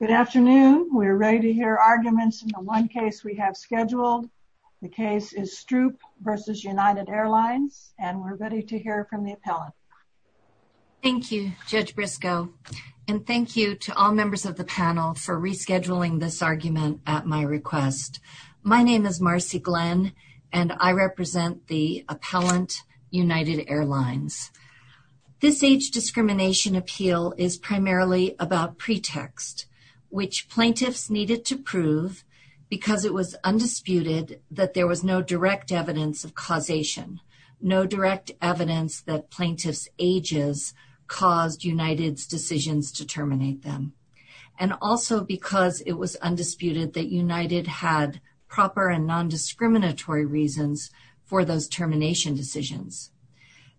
Good afternoon. We're ready to hear arguments in the one case we have scheduled. The case is Stroup v. United Airlines and we're ready to hear from the appellant. Thank you Judge Briscoe and thank you to all members of the panel for rescheduling this argument at my request. My name is Marcy Glenn and I represent the appellant United Airlines. This age discrimination appeal is primarily about pretext, which plaintiffs needed to prove because it was undisputed that there was no direct evidence of causation, no direct evidence that plaintiffs ages caused United's decisions to terminate them, and also because it was undisputed that United had proper and non-discriminatory reasons for those termination decisions.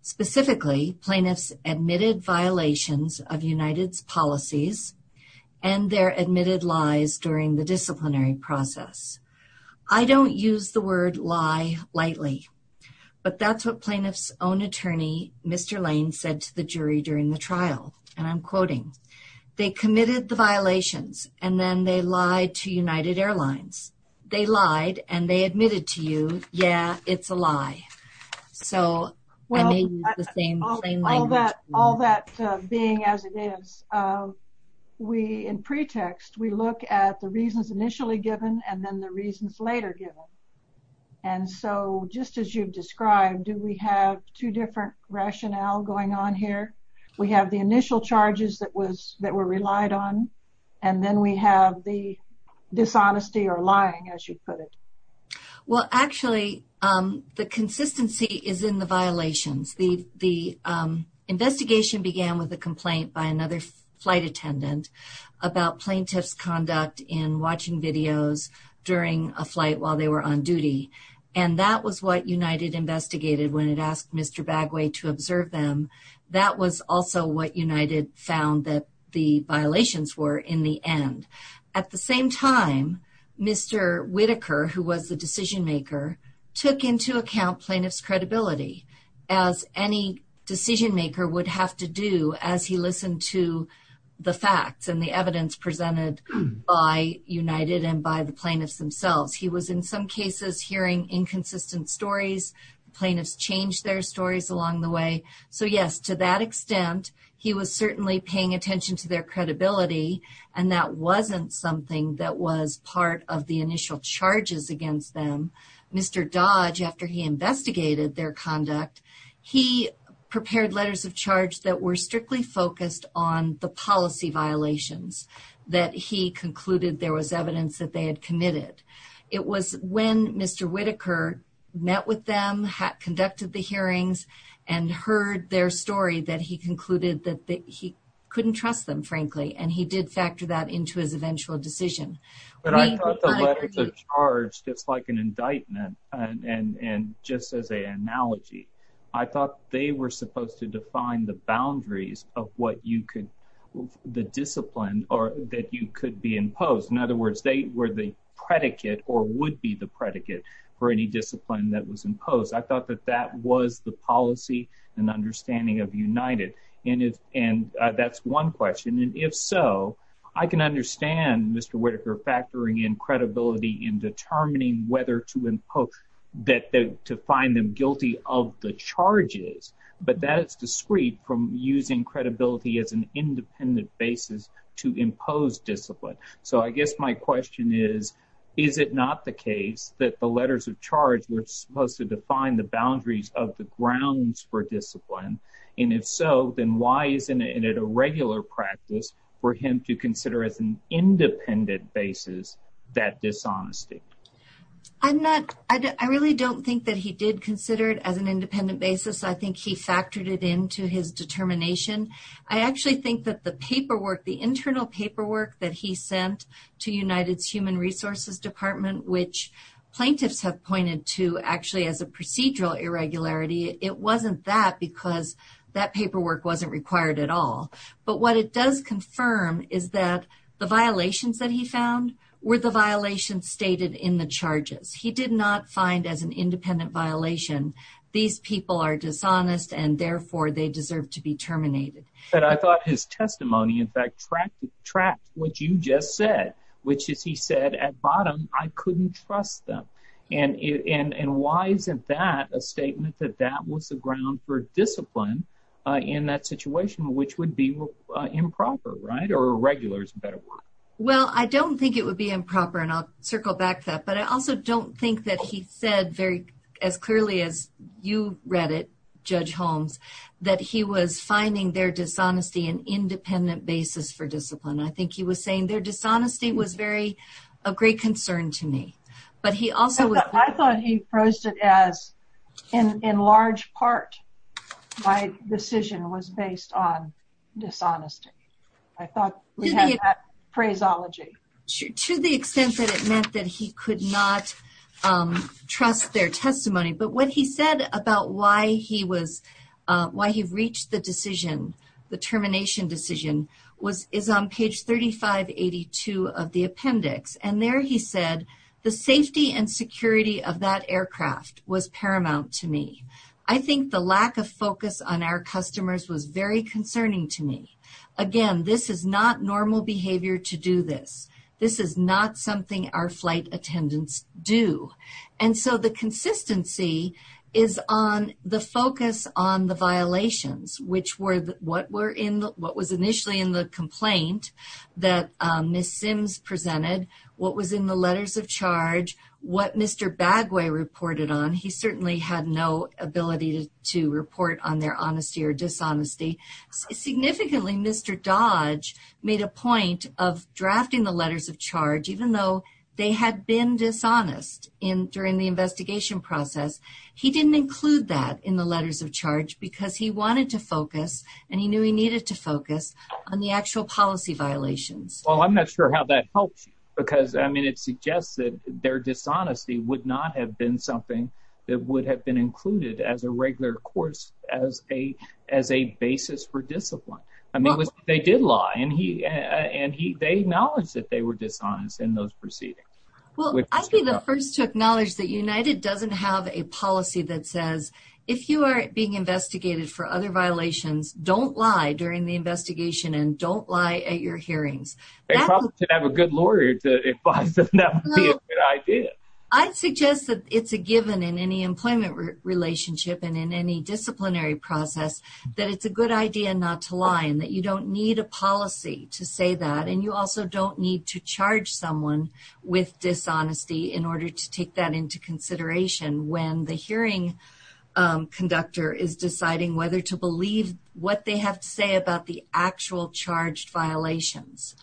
Specifically, plaintiffs admitted violations of United's policies and their admitted lies during the disciplinary process. I don't use the word lie lightly, but that's what plaintiffs own attorney Mr. Lane said to the jury during the trial, and I'm quoting, they committed the violations and then they lied to United Airlines. They lied and they admitted to you, yeah it's a lie. So all that being as it is, we in pretext, we look at the reasons initially given and then the reasons later given. And so just as you've described, do we have two different rationale going on here? We have the initial charges that was that were lied on, and then we have the dishonesty or lying as you put it. Well actually the consistency is in the violations. The investigation began with a complaint by another flight attendant about plaintiff's conduct in watching videos during a flight while they were on duty, and that was what United investigated when it asked Mr. Bagway to observe them. That was also what United found that the violations were in the end. At the same time, Mr. Whitaker, who was the decision maker, took into account plaintiff's credibility as any decision maker would have to do as he listened to the facts and the evidence presented by United and by the plaintiffs themselves. He was in some cases hearing inconsistent stories, plaintiffs changed their stories along the way. So yes, to that extent he was certainly paying attention to their credibility and that wasn't something that was part of the initial charges against them. Mr. Dodge, after he investigated their conduct, he prepared letters of charge that were strictly focused on the policy violations that he concluded there was evidence that they had committed. It was when Mr. Whitaker met with them, conducted the hearings, and heard their story that he concluded that he couldn't trust them, frankly, and he did factor that into his eventual decision. But I thought the letters of charge, just like an indictment, and just as an analogy, I thought they were supposed to define the boundaries of what you could, the discipline that you could be imposed. In other words, they were the predicate or would be the predicate for any was the policy and understanding of United. And that's one question, and if so, I can understand Mr. Whitaker factoring in credibility in determining whether to impose, to find them guilty of the charges, but that is discreet from using credibility as an independent basis to impose discipline. So I guess my question is, is it not the case that the letters of charge were supposed to define the boundaries of the grounds for discipline? And if so, then why isn't it a regular practice for him to consider as an independent basis that dishonesty? I'm not, I really don't think that he did consider it as an independent basis. I think he factored it into his determination. I actually think that the paperwork, the internal paperwork that he sent to United's Human Resources Department, which plaintiffs have pointed to actually as a procedural irregularity, it wasn't that because that paperwork wasn't required at all. But what it does confirm is that the violations that he found were the violations stated in the charges. He did not find as an independent violation these people are dishonest and therefore they deserve to be terminated. But I thought his testimony in fact tracked what you just said, which is he said at bottom, I couldn't trust them. And why isn't that a statement that that was the ground for discipline in that situation, which would be improper, right? Or irregular is a better word. Well, I don't think it would be improper, and I'll circle back to that. But I also don't think that he said very as clearly as you read it, Judge Holmes, that he was finding their dishonesty an independent basis for a great concern to me. But he also... I thought he posed it as, in large part, my decision was based on dishonesty. I thought we had that phraseology. To the extent that it meant that he could not trust their testimony. But what he said about why he reached the decision, the termination decision, is on page 3582 of the appendix. And there he said, the safety and security of that aircraft was paramount to me. I think the lack of focus on our customers was very concerning to me. Again, this is not normal behavior to do this. This is not something our flight attendants do. And so the consistency is on the focus on the violations, which were what were in the complaint that Ms. Sims presented, what was in the letters of charge, what Mr. Bagway reported on. He certainly had no ability to report on their honesty or dishonesty. Significantly, Mr. Dodge made a point of drafting the letters of charge, even though they had been dishonest during the investigation process. He didn't include that in the letters of charge because he wanted to focus, and he needed to focus, on the actual policy violations. Well, I'm not sure how that helps because, I mean, it suggests that their dishonesty would not have been something that would have been included as a regular course, as a basis for discipline. I mean, they did lie, and they acknowledged that they were dishonest in those proceedings. Well, I'd be the first to acknowledge that United doesn't have a policy that says, if you are being investigated for other violations, don't lie during the investigation and don't lie at your hearings. They probably should have a good lawyer to advise that that would be a good idea. I'd suggest that it's a given in any employment relationship and in any disciplinary process that it's a good idea not to lie and that you don't need a policy to say that, and you also don't need to charge someone with dishonesty in order to take that into consideration when the hearing conductor is deciding whether to believe what they have to say about the actual charged violations.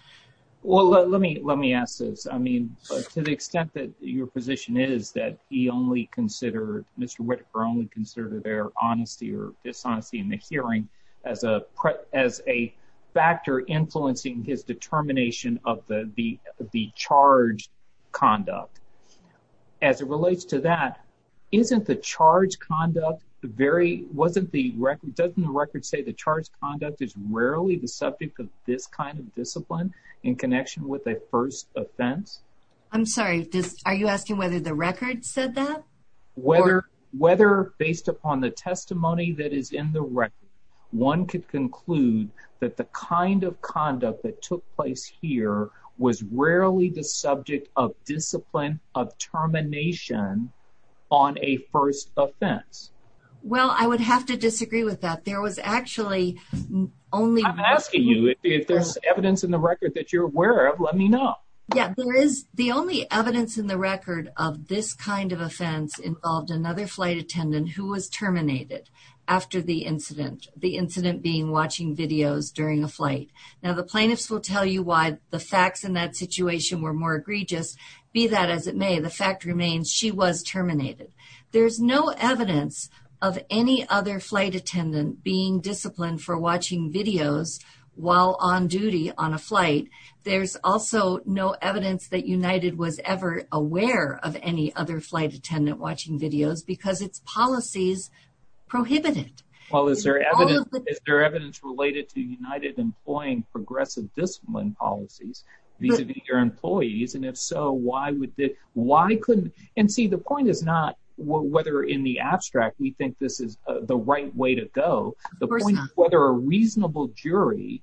Well, let me ask this. I mean, to the extent that your position is that he only considered, Mr. Whitaker only considered their honesty or dishonesty in the hearing as a factor influencing his determination of the charged conduct, as it relates to that, isn't the charged conduct very, wasn't the record, doesn't the record say the charged conduct is rarely the subject of this kind of discipline in connection with a first offense? I'm sorry, are you asking whether the record said that? Whether, based upon the testimony that is in the record, one could conclude that the kind of conduct that took place here was rarely the subject of discipline of termination on a first offense. Well, I would have to disagree with that. There was actually only... I'm asking you, if there's evidence in the record that you're aware of, let me know. Yeah, there is. The only evidence in the record of this kind of offense involved another flight attendant who was terminated after the incident. The incident being watching videos during a flight. Now, the plaintiffs will tell you why the facts in that situation were egregious, be that as it may, the fact remains she was terminated. There's no evidence of any other flight attendant being disciplined for watching videos while on duty on a flight. There's also no evidence that United was ever aware of any other flight attendant watching videos because its policies prohibit it. Well, is there evidence related to United employing progressive discipline policies vis-a-vis your employees? And if so, why would they... why couldn't... and see, the point is not whether in the abstract we think this is the right way to go. The point is whether a reasonable jury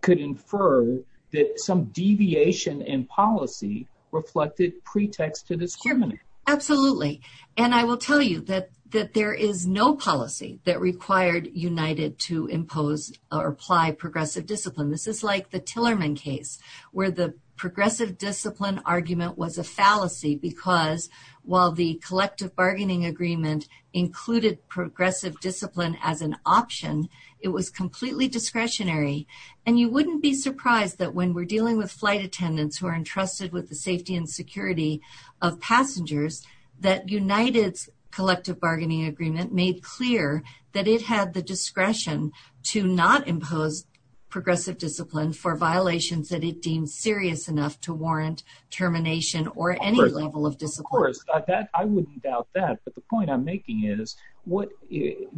could infer that some deviation in policy reflected pretext to discriminate. Absolutely, and I will tell you that that there is no policy that required United to impose or apply progressive discipline. This is like the Tillerman case, where the progressive discipline argument was a fallacy because while the collective bargaining agreement included progressive discipline as an option, it was completely discretionary. And you wouldn't be surprised that when we're dealing with flight attendants who are entrusted with the safety and security of passengers, that United's collective bargaining agreement made clear that it had the discretion to not impose progressive discipline for violations that it deemed serious enough to warrant termination or any level of discipline. Of course, I wouldn't doubt that, but the point I'm making is what...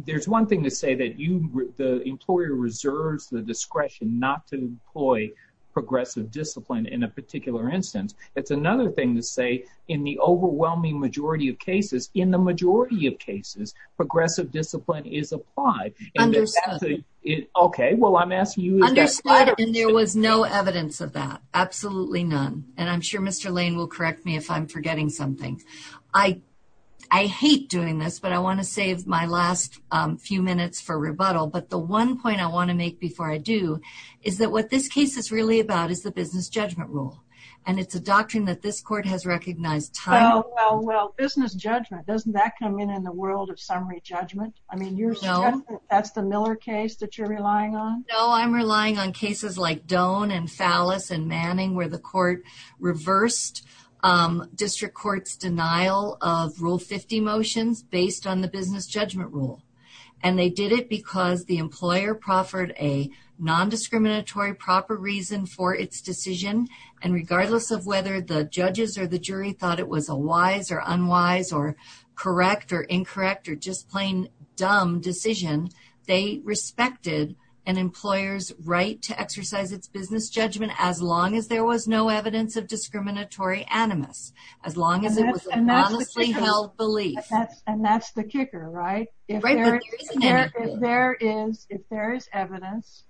there's one thing to say that you... the employer reserves the discretion not to employ progressive discipline in a particular instance. It's another thing to say in the overwhelming majority of cases, in the majority of cases, progressive discipline is applied. Understood. Okay, well I'm asking you... Understood, and there was no evidence of that. Absolutely none, and I'm sure Mr. Lane will correct me if I'm forgetting something. I hate doing this, but I want to save my last few minutes for rebuttal, but the one point I want to make before I do is that what this case is really about is the business judgment rule, and it's a doctrine that this court has recognized time... Well, well, well, business judgment, doesn't that come in in the world of summary judgment? I mean, you're saying that's the Miller case that you're relying on? No, I'm relying on cases like Doan and Fallis and Manning where the court reversed District Court's denial of Rule 50 motions based on the business judgment rule, and they did it because the employer proffered a non-discriminatory proper reason for its decision, and regardless of whether the judges or the jury thought it was a wise or unwise or correct or incorrect or just plain dumb decision, they respected an employer's right to exercise its business judgment as long as there was no evidence of discriminatory animus, as long as it was an honestly held belief. And that's the kicker, right? If there is evidence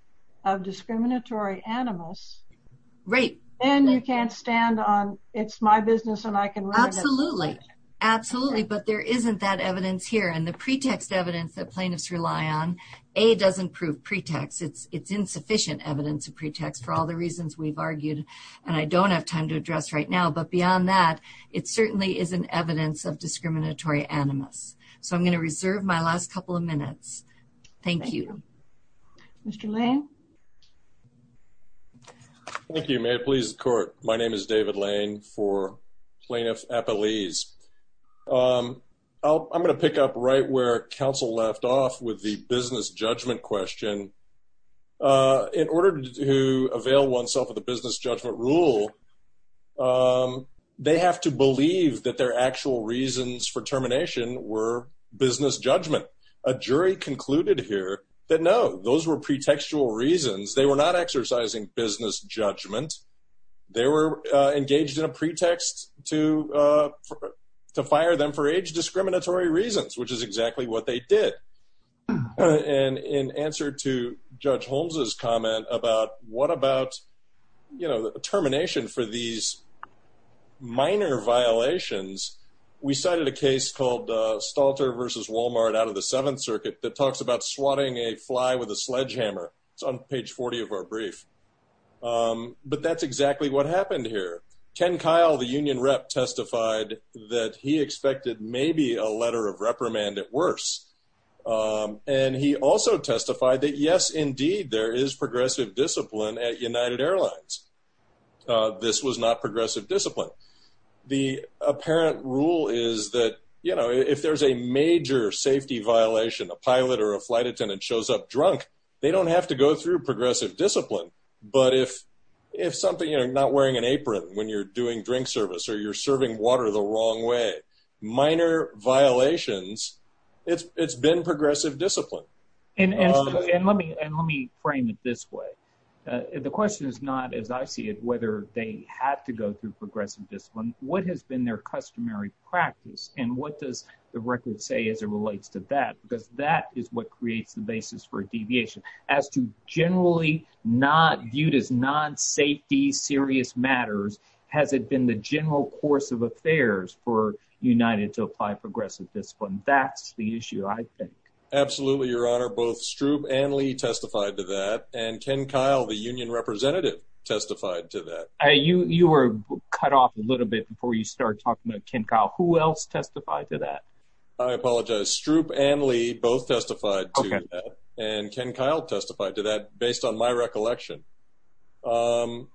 of discriminatory animus, then you can't stand on, it's my business and I can... Absolutely, absolutely, but there isn't that evidence here, and the pretext evidence that plaintiffs rely on, A, doesn't prove pretext. It's insufficient evidence of pretext for all the reasons we've argued and I don't have time to address right now, but beyond that, it certainly isn't evidence of discriminatory animus. So I'm going to reserve my last couple of minutes. Thank you. Mr. Lane. Thank you. May it please the court. My name is David Lane for Plaintiff Appellees. I'm going to pick up right where counsel left off with the business judgment question. In order to avail oneself of the business judgment rule, they have to believe that their actual reasons for termination were business judgment. A jury concluded here that no, those were pretextual reasons. They were not exercising business judgment. They were engaged in a pretext to fire them for age discriminatory reasons, which is exactly what they did. And in answer to Judge Holmes's comment about what about, you know, the of the Seventh Circuit that talks about swatting a fly with a sledgehammer. It's on page 40 of our brief. Um, but that's exactly what happened here. Ken Kyle, the union rep, testified that he expected maybe a letter of reprimand at worse. Um, and he also testified that, yes, indeed, there is progressive discipline at United Airlines. Uh, this was not progressive discipline. The apparent rule is that, you know, if there's a major safety violation, a pilot or a flight attendant shows up drunk, they don't have to go through progressive discipline. But if if something you're not wearing an apron when you're doing drink service or you're serving water the wrong way, minor violations, it's it's been progressive discipline. And let me and let me frame it this way. The question is not, as I see it, whether they had to go through progressive discipline. What has been their customary practice? And what does the record say as it relates to that? Because that is what creates the basis for deviation as to generally not viewed as non safety serious matters. Has it been the general course of affairs for United to apply progressive discipline? That's the issue, I think. Absolutely, Your Honor. Both Stroop and Lee testified to that. And Ken Kyle, the union representative, testified to that. You were cut off a little bit before you start talking about Ken Kyle. Who else testified to that? I apologize. Stroop and Lee both testified and Ken Kyle testified to that based on my recollection. Um,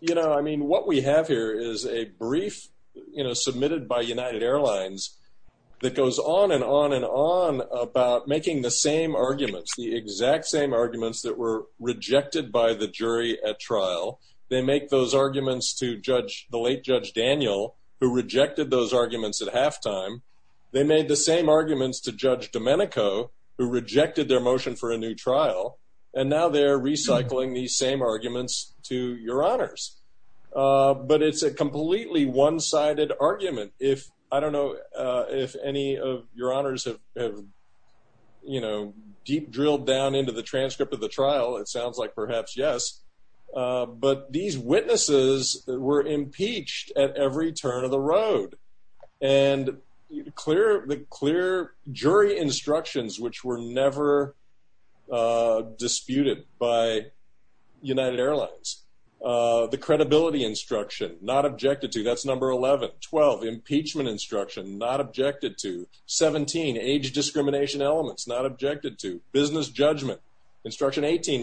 you know, I mean, what we have here is a brief, you know, submitted by United Airlines that goes on and on and on about making the same arguments, the make those arguments to judge the late Judge Daniel, who rejected those arguments at halftime. They made the same arguments to Judge Domenico, who rejected their motion for a new trial. And now they're recycling these same arguments to your honors. But it's a completely one sided argument. If I don't know if any of your honors have, you know, deep drilled down into the but these witnesses were impeached at every turn of the road and clear the clear jury instructions, which were never disputed by United Airlines. The credibility instruction not objected to that's number 11 12 impeachment instruction not objected to 17 age discrimination elements not objected to business judgment. Instruction 18.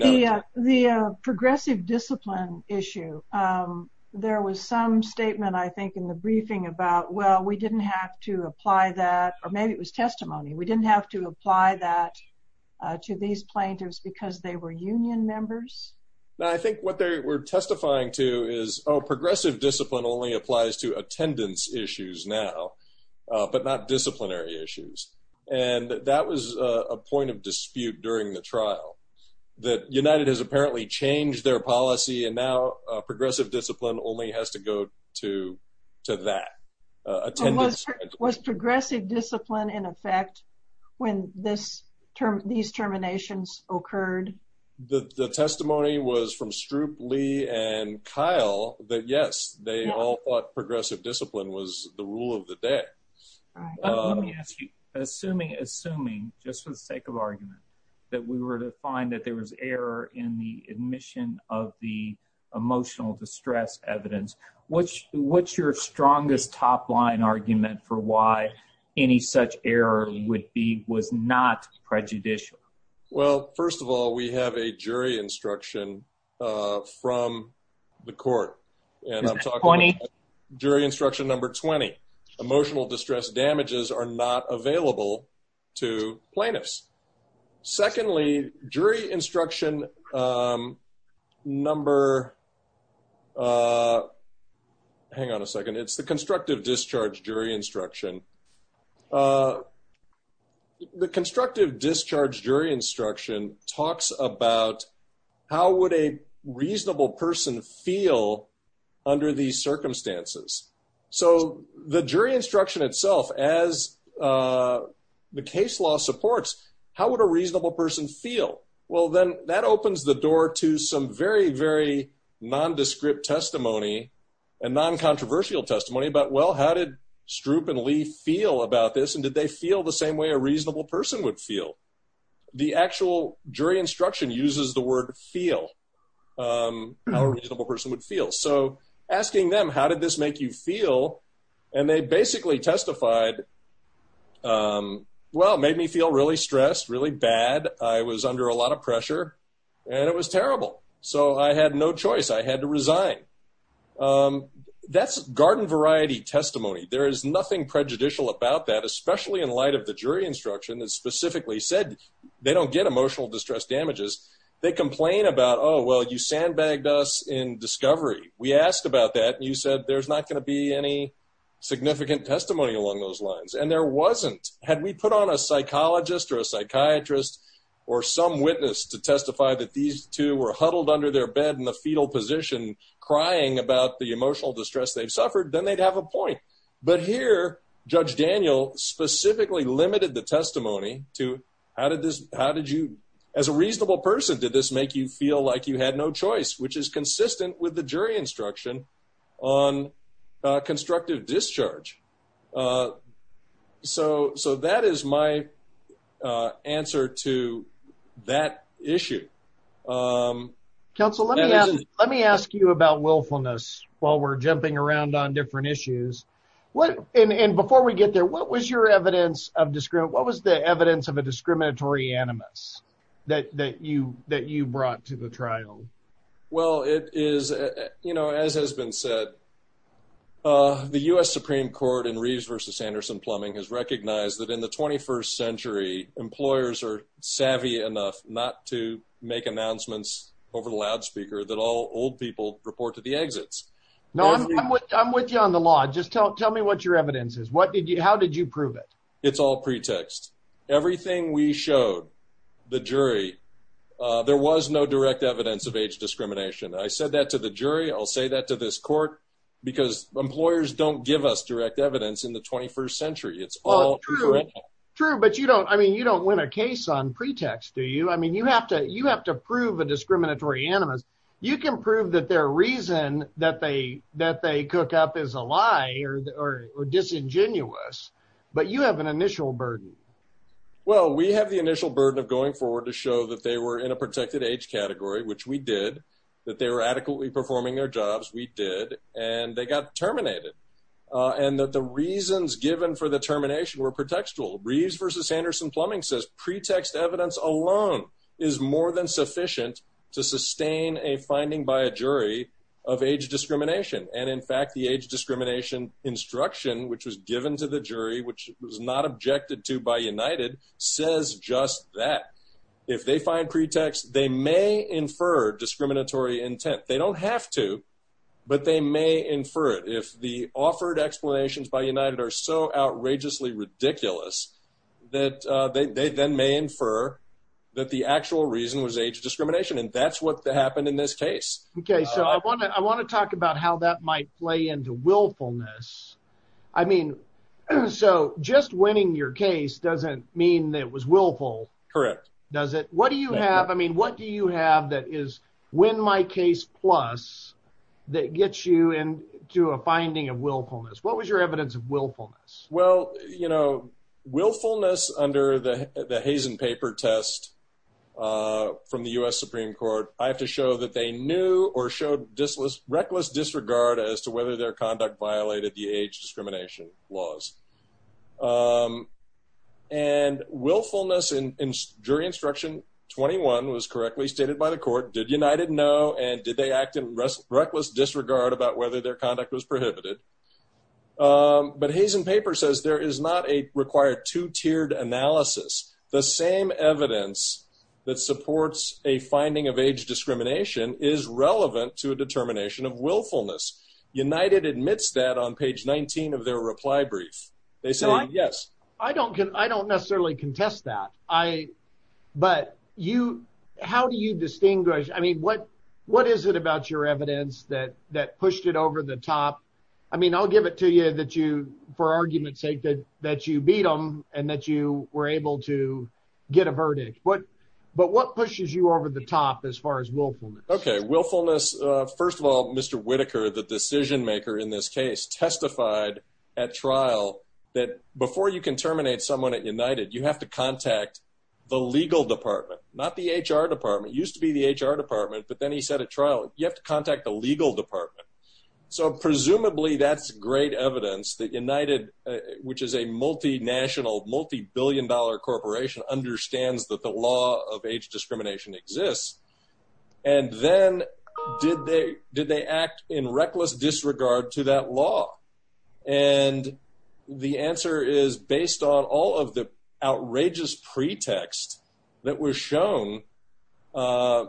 The progressive discipline issue. Um, there was some statement, I think, in the briefing about well, we didn't have to apply that. Or maybe it was testimony. We didn't have to apply that to these plaintiffs because they were union members. I think what they were testifying to is progressive discipline only applies to attendance issues now, but not disciplinary issues. And that was a point of dispute during the trial that United has apparently changed their policy. And now progressive discipline only has to go to to that attendance was progressive discipline in effect when this term these terminations occurred. The testimony was from Stroop, Lee and Kyle that yes, they all thought progressive discipline was the rule of the day. Let me ask you, assuming assuming just for the sake of argument that we were to find that there was error in the admission of the emotional distress evidence, which what's your strongest top line argument for why any such error would be was not prejudicial? Well, first of all, we have a jury instruction from the court and I'm talking about jury instruction. Number 20 emotional distress damages are not available to plaintiffs. Secondly, jury instruction. Um, number uh, hang on a second. It's the constructive discharge jury instruction. Uh, the constructive discharge jury instruction talks about how would a reasonable person feel under these circumstances? So the jury instruction itself as, uh, the case law supports. How would a reasonable person feel? Well, then that opens the door to some very, very nondescript testimony and noncontroversial testimony. But well, how did Stroop and Lee feel about this? And did they feel the same way a reasonable person would feel? The actual jury instruction uses the word feel, um, how a reasonable person would feel. So asking them how did this make you feel? And they basically testified. Um, well, made me feel really stressed, really bad. I was under a lot of pressure and it was terrible. So I had no choice. I had to resign. Um, that's garden variety testimony. There is nothing prejudicial about that, especially in light of the jury instruction that specifically said they don't get emotional distress damages. They complain about. Oh, well, you sandbag us in discovery. We asked about that. You said there's not gonna be any significant testimony along those lines. And there wasn't. Had we put on a psychologist or a psychiatrist or some witness to testify that these two were huddled under their bed in the fetal position, crying about the emotional distress they've suffered, then they'd have a point. But here, Judge Daniel specifically limited the testimony to how did this? How did you as a which is consistent with the jury instruction on constructive discharge? Uh, so. So that is my, uh, answer to that issue. Um, Council, let me ask you about willfulness while we're jumping around on different issues. What? And before we get there, what was your evidence of discrimination? What was the evidence of a discriminatory animus that that you that you brought to the trial? Well, it is, you know, as has been said, uh, the U. S. Supreme Court in Reeves versus Sanderson Plumbing has recognized that in the 21st century, employers are savvy enough not to make announcements over loudspeaker that all old people report to the exits. No, I'm with you on the law. Just tell me what your evidence is. What did you? How did you prove it? It's all pretext. Everything we showed the jury. There was no direct evidence of age discrimination. I said that to the jury. I'll say that to this court because employers don't give us direct evidence in the 21st century. It's all true. But you don't. I mean, you don't win a case on pretext, do you? I mean, you have to. You have to prove a discriminatory animus. You can prove that their reason that they that they cook up is a lie or disingenuous. But you have an initial burden. Well, we have the initial burden of going forward to show that they were in a protected age category, which we did, that they were adequately performing their jobs. We did, and they got terminated on that. The reasons given for the termination were protectual. Reeves versus Sanderson Plumbing says pretext evidence alone is more than sufficient to sustain a finding by a jury of age discrimination. And in fact, the age discrimination instruction which was given to the jury, which was not objected to by United, says just that. If they find pretext, they may infer discriminatory intent. They don't have to, but they may infer it. If the offered explanations by United are so outrageously ridiculous that they then may infer that the actual reason was age discrimination. And that's what happened in this case. Okay, so I wanna I wanna talk about how that might play into willfulness. I mean, so just winning your case doesn't mean that was willful, correct? Does it? What do you have? I mean, what do you have that is when my case plus that gets you into a finding of willfulness? What was your evidence of willfulness? Well, you know, willfulness under the the haze and paper test, uh, from the U. S. Supreme Court. I have to show that they knew or showed this was reckless disregard as to whether their conduct violated the age discrimination laws. Um, and willfulness and jury instruction. 21 was correctly stated by the court. Did United know? And did they act in reckless disregard about whether their conduct was prohibited? But haze and paper says there is not a required two tiered analysis. The same evidence that supports a finding of age discrimination is relevant to a determination of willfulness. United admits that on page 19 of their reply brief, they say, Yes, I don't. I don't necessarily contest that. I But you how do you distinguish? I mean, what? What is it about your evidence that that pushed it over the top? I mean, I'll give it to you that you for argument that that you beat him and that you were able to get a verdict. But But what pushes you over the top as far as willfulness? Okay, willfulness. First of all, Mr Whitaker, the decision maker in this case, testified at trial that before you can terminate someone at United, you have to contact the legal department, not the H. R. Department used to be the H. R. Department. But then he said at trial, you have to contact the legal department. So which is a multinational multibillion dollar corporation understands that the law of age discrimination exists. And then did they? Did they act in reckless disregard to that law? And the answer is based on all of the outrageous pretext that was shown. Uh,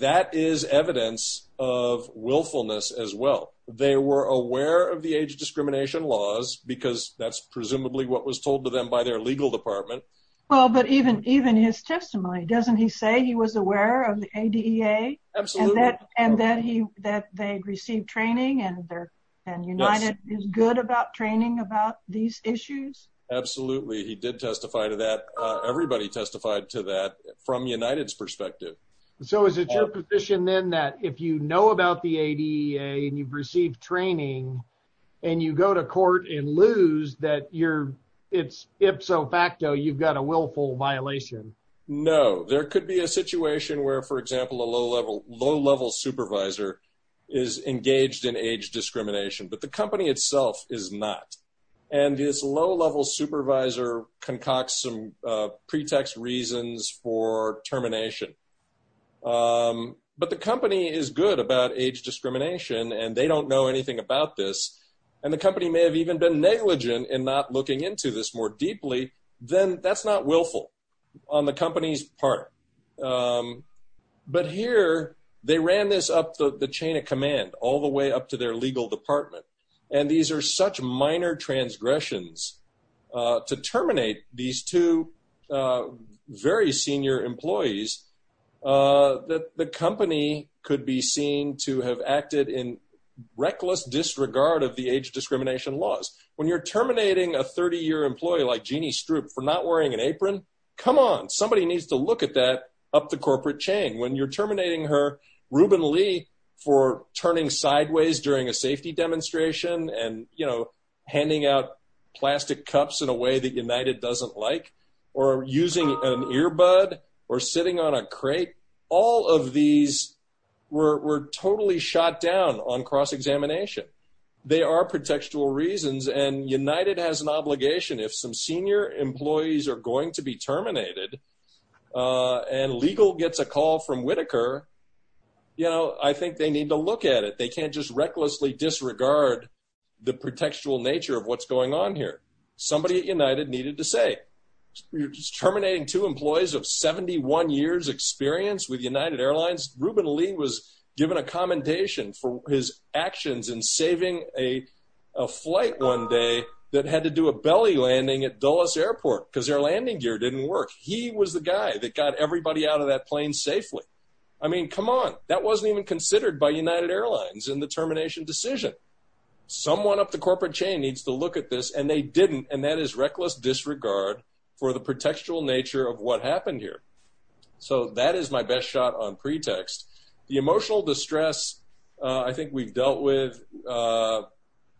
that is evidence of willfulness as well. They were aware of the age discrimination laws because that's presumably what was told to them by their legal department. Well, but even even his testimony, doesn't he say he was aware of the A. D. A. And that and that he that they received training and there and United is good about training about these issues. Absolutely. He did testify to that. Everybody testified to that from United's perspective. So is it your position then that if you know about the A. D. A. And you've received training and you go to court and lose that you're it's ipso facto. You've got a willful violation. No, there could be a situation where, for example, a low level, low level supervisor is engaged in age discrimination. But the company itself is not. And his low level supervisor concocts some pretext reasons for termination. Um, but the age discrimination and they don't know anything about this, and the company may have even been negligent in not looking into this more deeply than that's not willful on the company's part. Um, but here they ran this up the chain of command all the way up to their legal department. And these air such minor transgressions to terminate these two very senior employees, uh, the company could be seen to have acted in reckless disregard of the age discrimination laws when you're terminating a 30 year employee like Jeannie Stroop for not wearing an apron. Come on. Somebody needs to look at that up the corporate chain when you're terminating her. Ruben Lee for turning sideways during a safety demonstration and, you know, handing out plastic cups in a way that United doesn't like or using an earbud or sitting on a crate. All of these were totally shot down on cross examination. They are protectual reasons, and United has an obligation. If some senior employees are going to be terminated, uh, and legal gets a call from Whitaker, you know, I think they need to look at it. They can't just recklessly disregard the protectual nature of what's going on here. Somebody united needed to say you're just terminating two employees of 71 years experience with United Airlines. Ruben Lee was given a commendation for his actions and saving a flight one day that had to do a belly landing at Dulles Airport because their landing gear didn't work. He was the guy that got everybody out of that plane safely. I mean, come on. That wasn't even considered by United Airlines in the termination decision. Someone up the corporate chain needs to look at this, and they didn't. And that is reckless disregard for the protectual nature of what happened here. So that is my best shot on pretext. The emotional distress I think we've dealt with. Uh,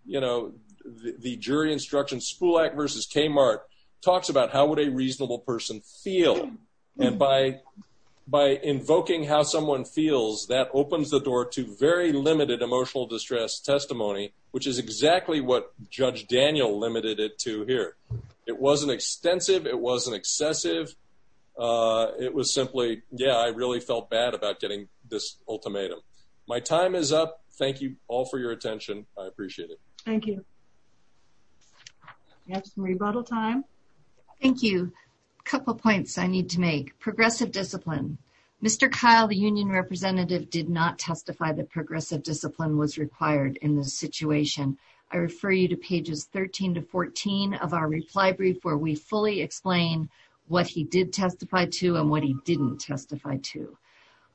you know, the jury instruction Spulak versus K Mark talks about how would a reasonable person feel? And by by invoking how someone feels, that opens the door to very limited emotional distress testimony, which is exactly what Judge Daniel limited it to here. It wasn't extensive. It wasn't excessive. Uh, it was simply Yeah, I really felt bad about getting this ultimatum. My time is up. Thank you all for your attention. I appreciate it. Thank you. Yes. Rebuttal time. Thank you. Couple points I need to make progressive discipline. Mr Kyle, the union representative did not testify that aggressive discipline was required in this situation. I refer you to pages 13 to 14 of our reply brief where we fully explain what he did testify to and what he didn't testify to.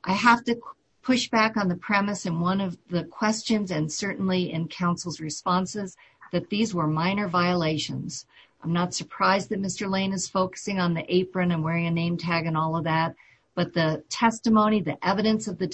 I have to push back on the premise in one of the questions and certainly in council's responses that these were minor violations. I'm not surprised that Mr Lane is focusing on the apron and wearing a name tag and all of that. But the testimony, the evidence of the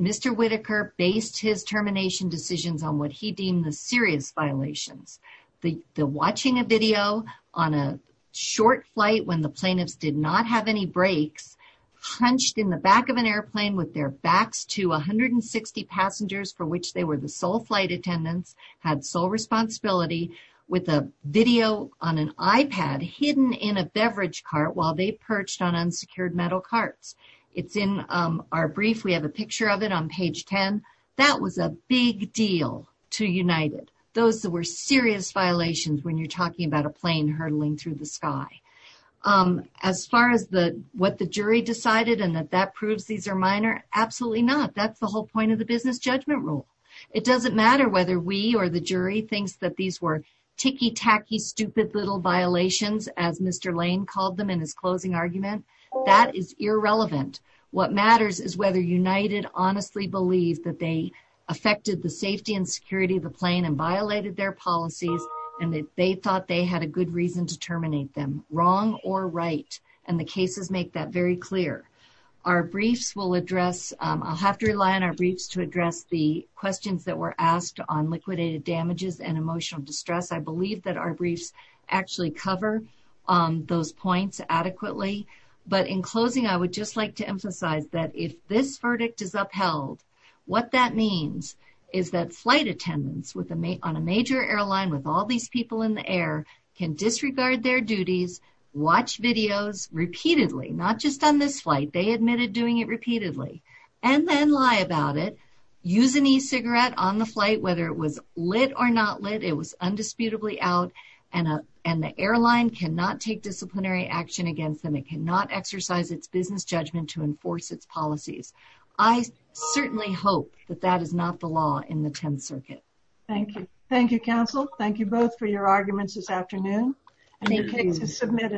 Mr Whitaker based his termination decisions on what he deemed the serious violations. The watching a video on a short flight when the plaintiffs did not have any brakes hunched in the back of an airplane with their backs to 160 passengers for which they were the sole flight attendants had sole responsibility with a video on an iPad hidden in a beverage cart while they perched on unsecured metal carts. It's in our brief. We have a picture of it on page 10. That was a big deal to United. Those that were serious violations when you're talking about a plane hurtling through the sky. As far as what the jury decided and that proves these are minor, absolutely not. That's the whole point of the business judgment rule. It doesn't matter whether we or the jury thinks that these were ticky tacky stupid little violations as Mr argument. That is irrelevant. What matters is whether United honestly believed that they affected the safety and security of the plane and violated their policies and that they thought they had a good reason to terminate them wrong or right and the cases make that very clear. Our briefs will address, I'll have to rely on our briefs to address the questions that were asked on liquidated damages and emotional distress. I believe that our briefs actually cover those points adequately but in closing I would just like to emphasize that if this verdict is upheld, what that means is that flight attendants on a major airline with all these people in the air can disregard their duties, watch videos repeatedly, not just on this flight. They admitted doing it repeatedly and then lie about it, use an e-cigarette on the out and the airline cannot take disciplinary action against them. It cannot exercise its business judgment to enforce its policies. I certainly hope that that is not the law in the Tenth Circuit. Thank you. Thank you, counsel. Thank you both for your arguments this afternoon and your case is submitted.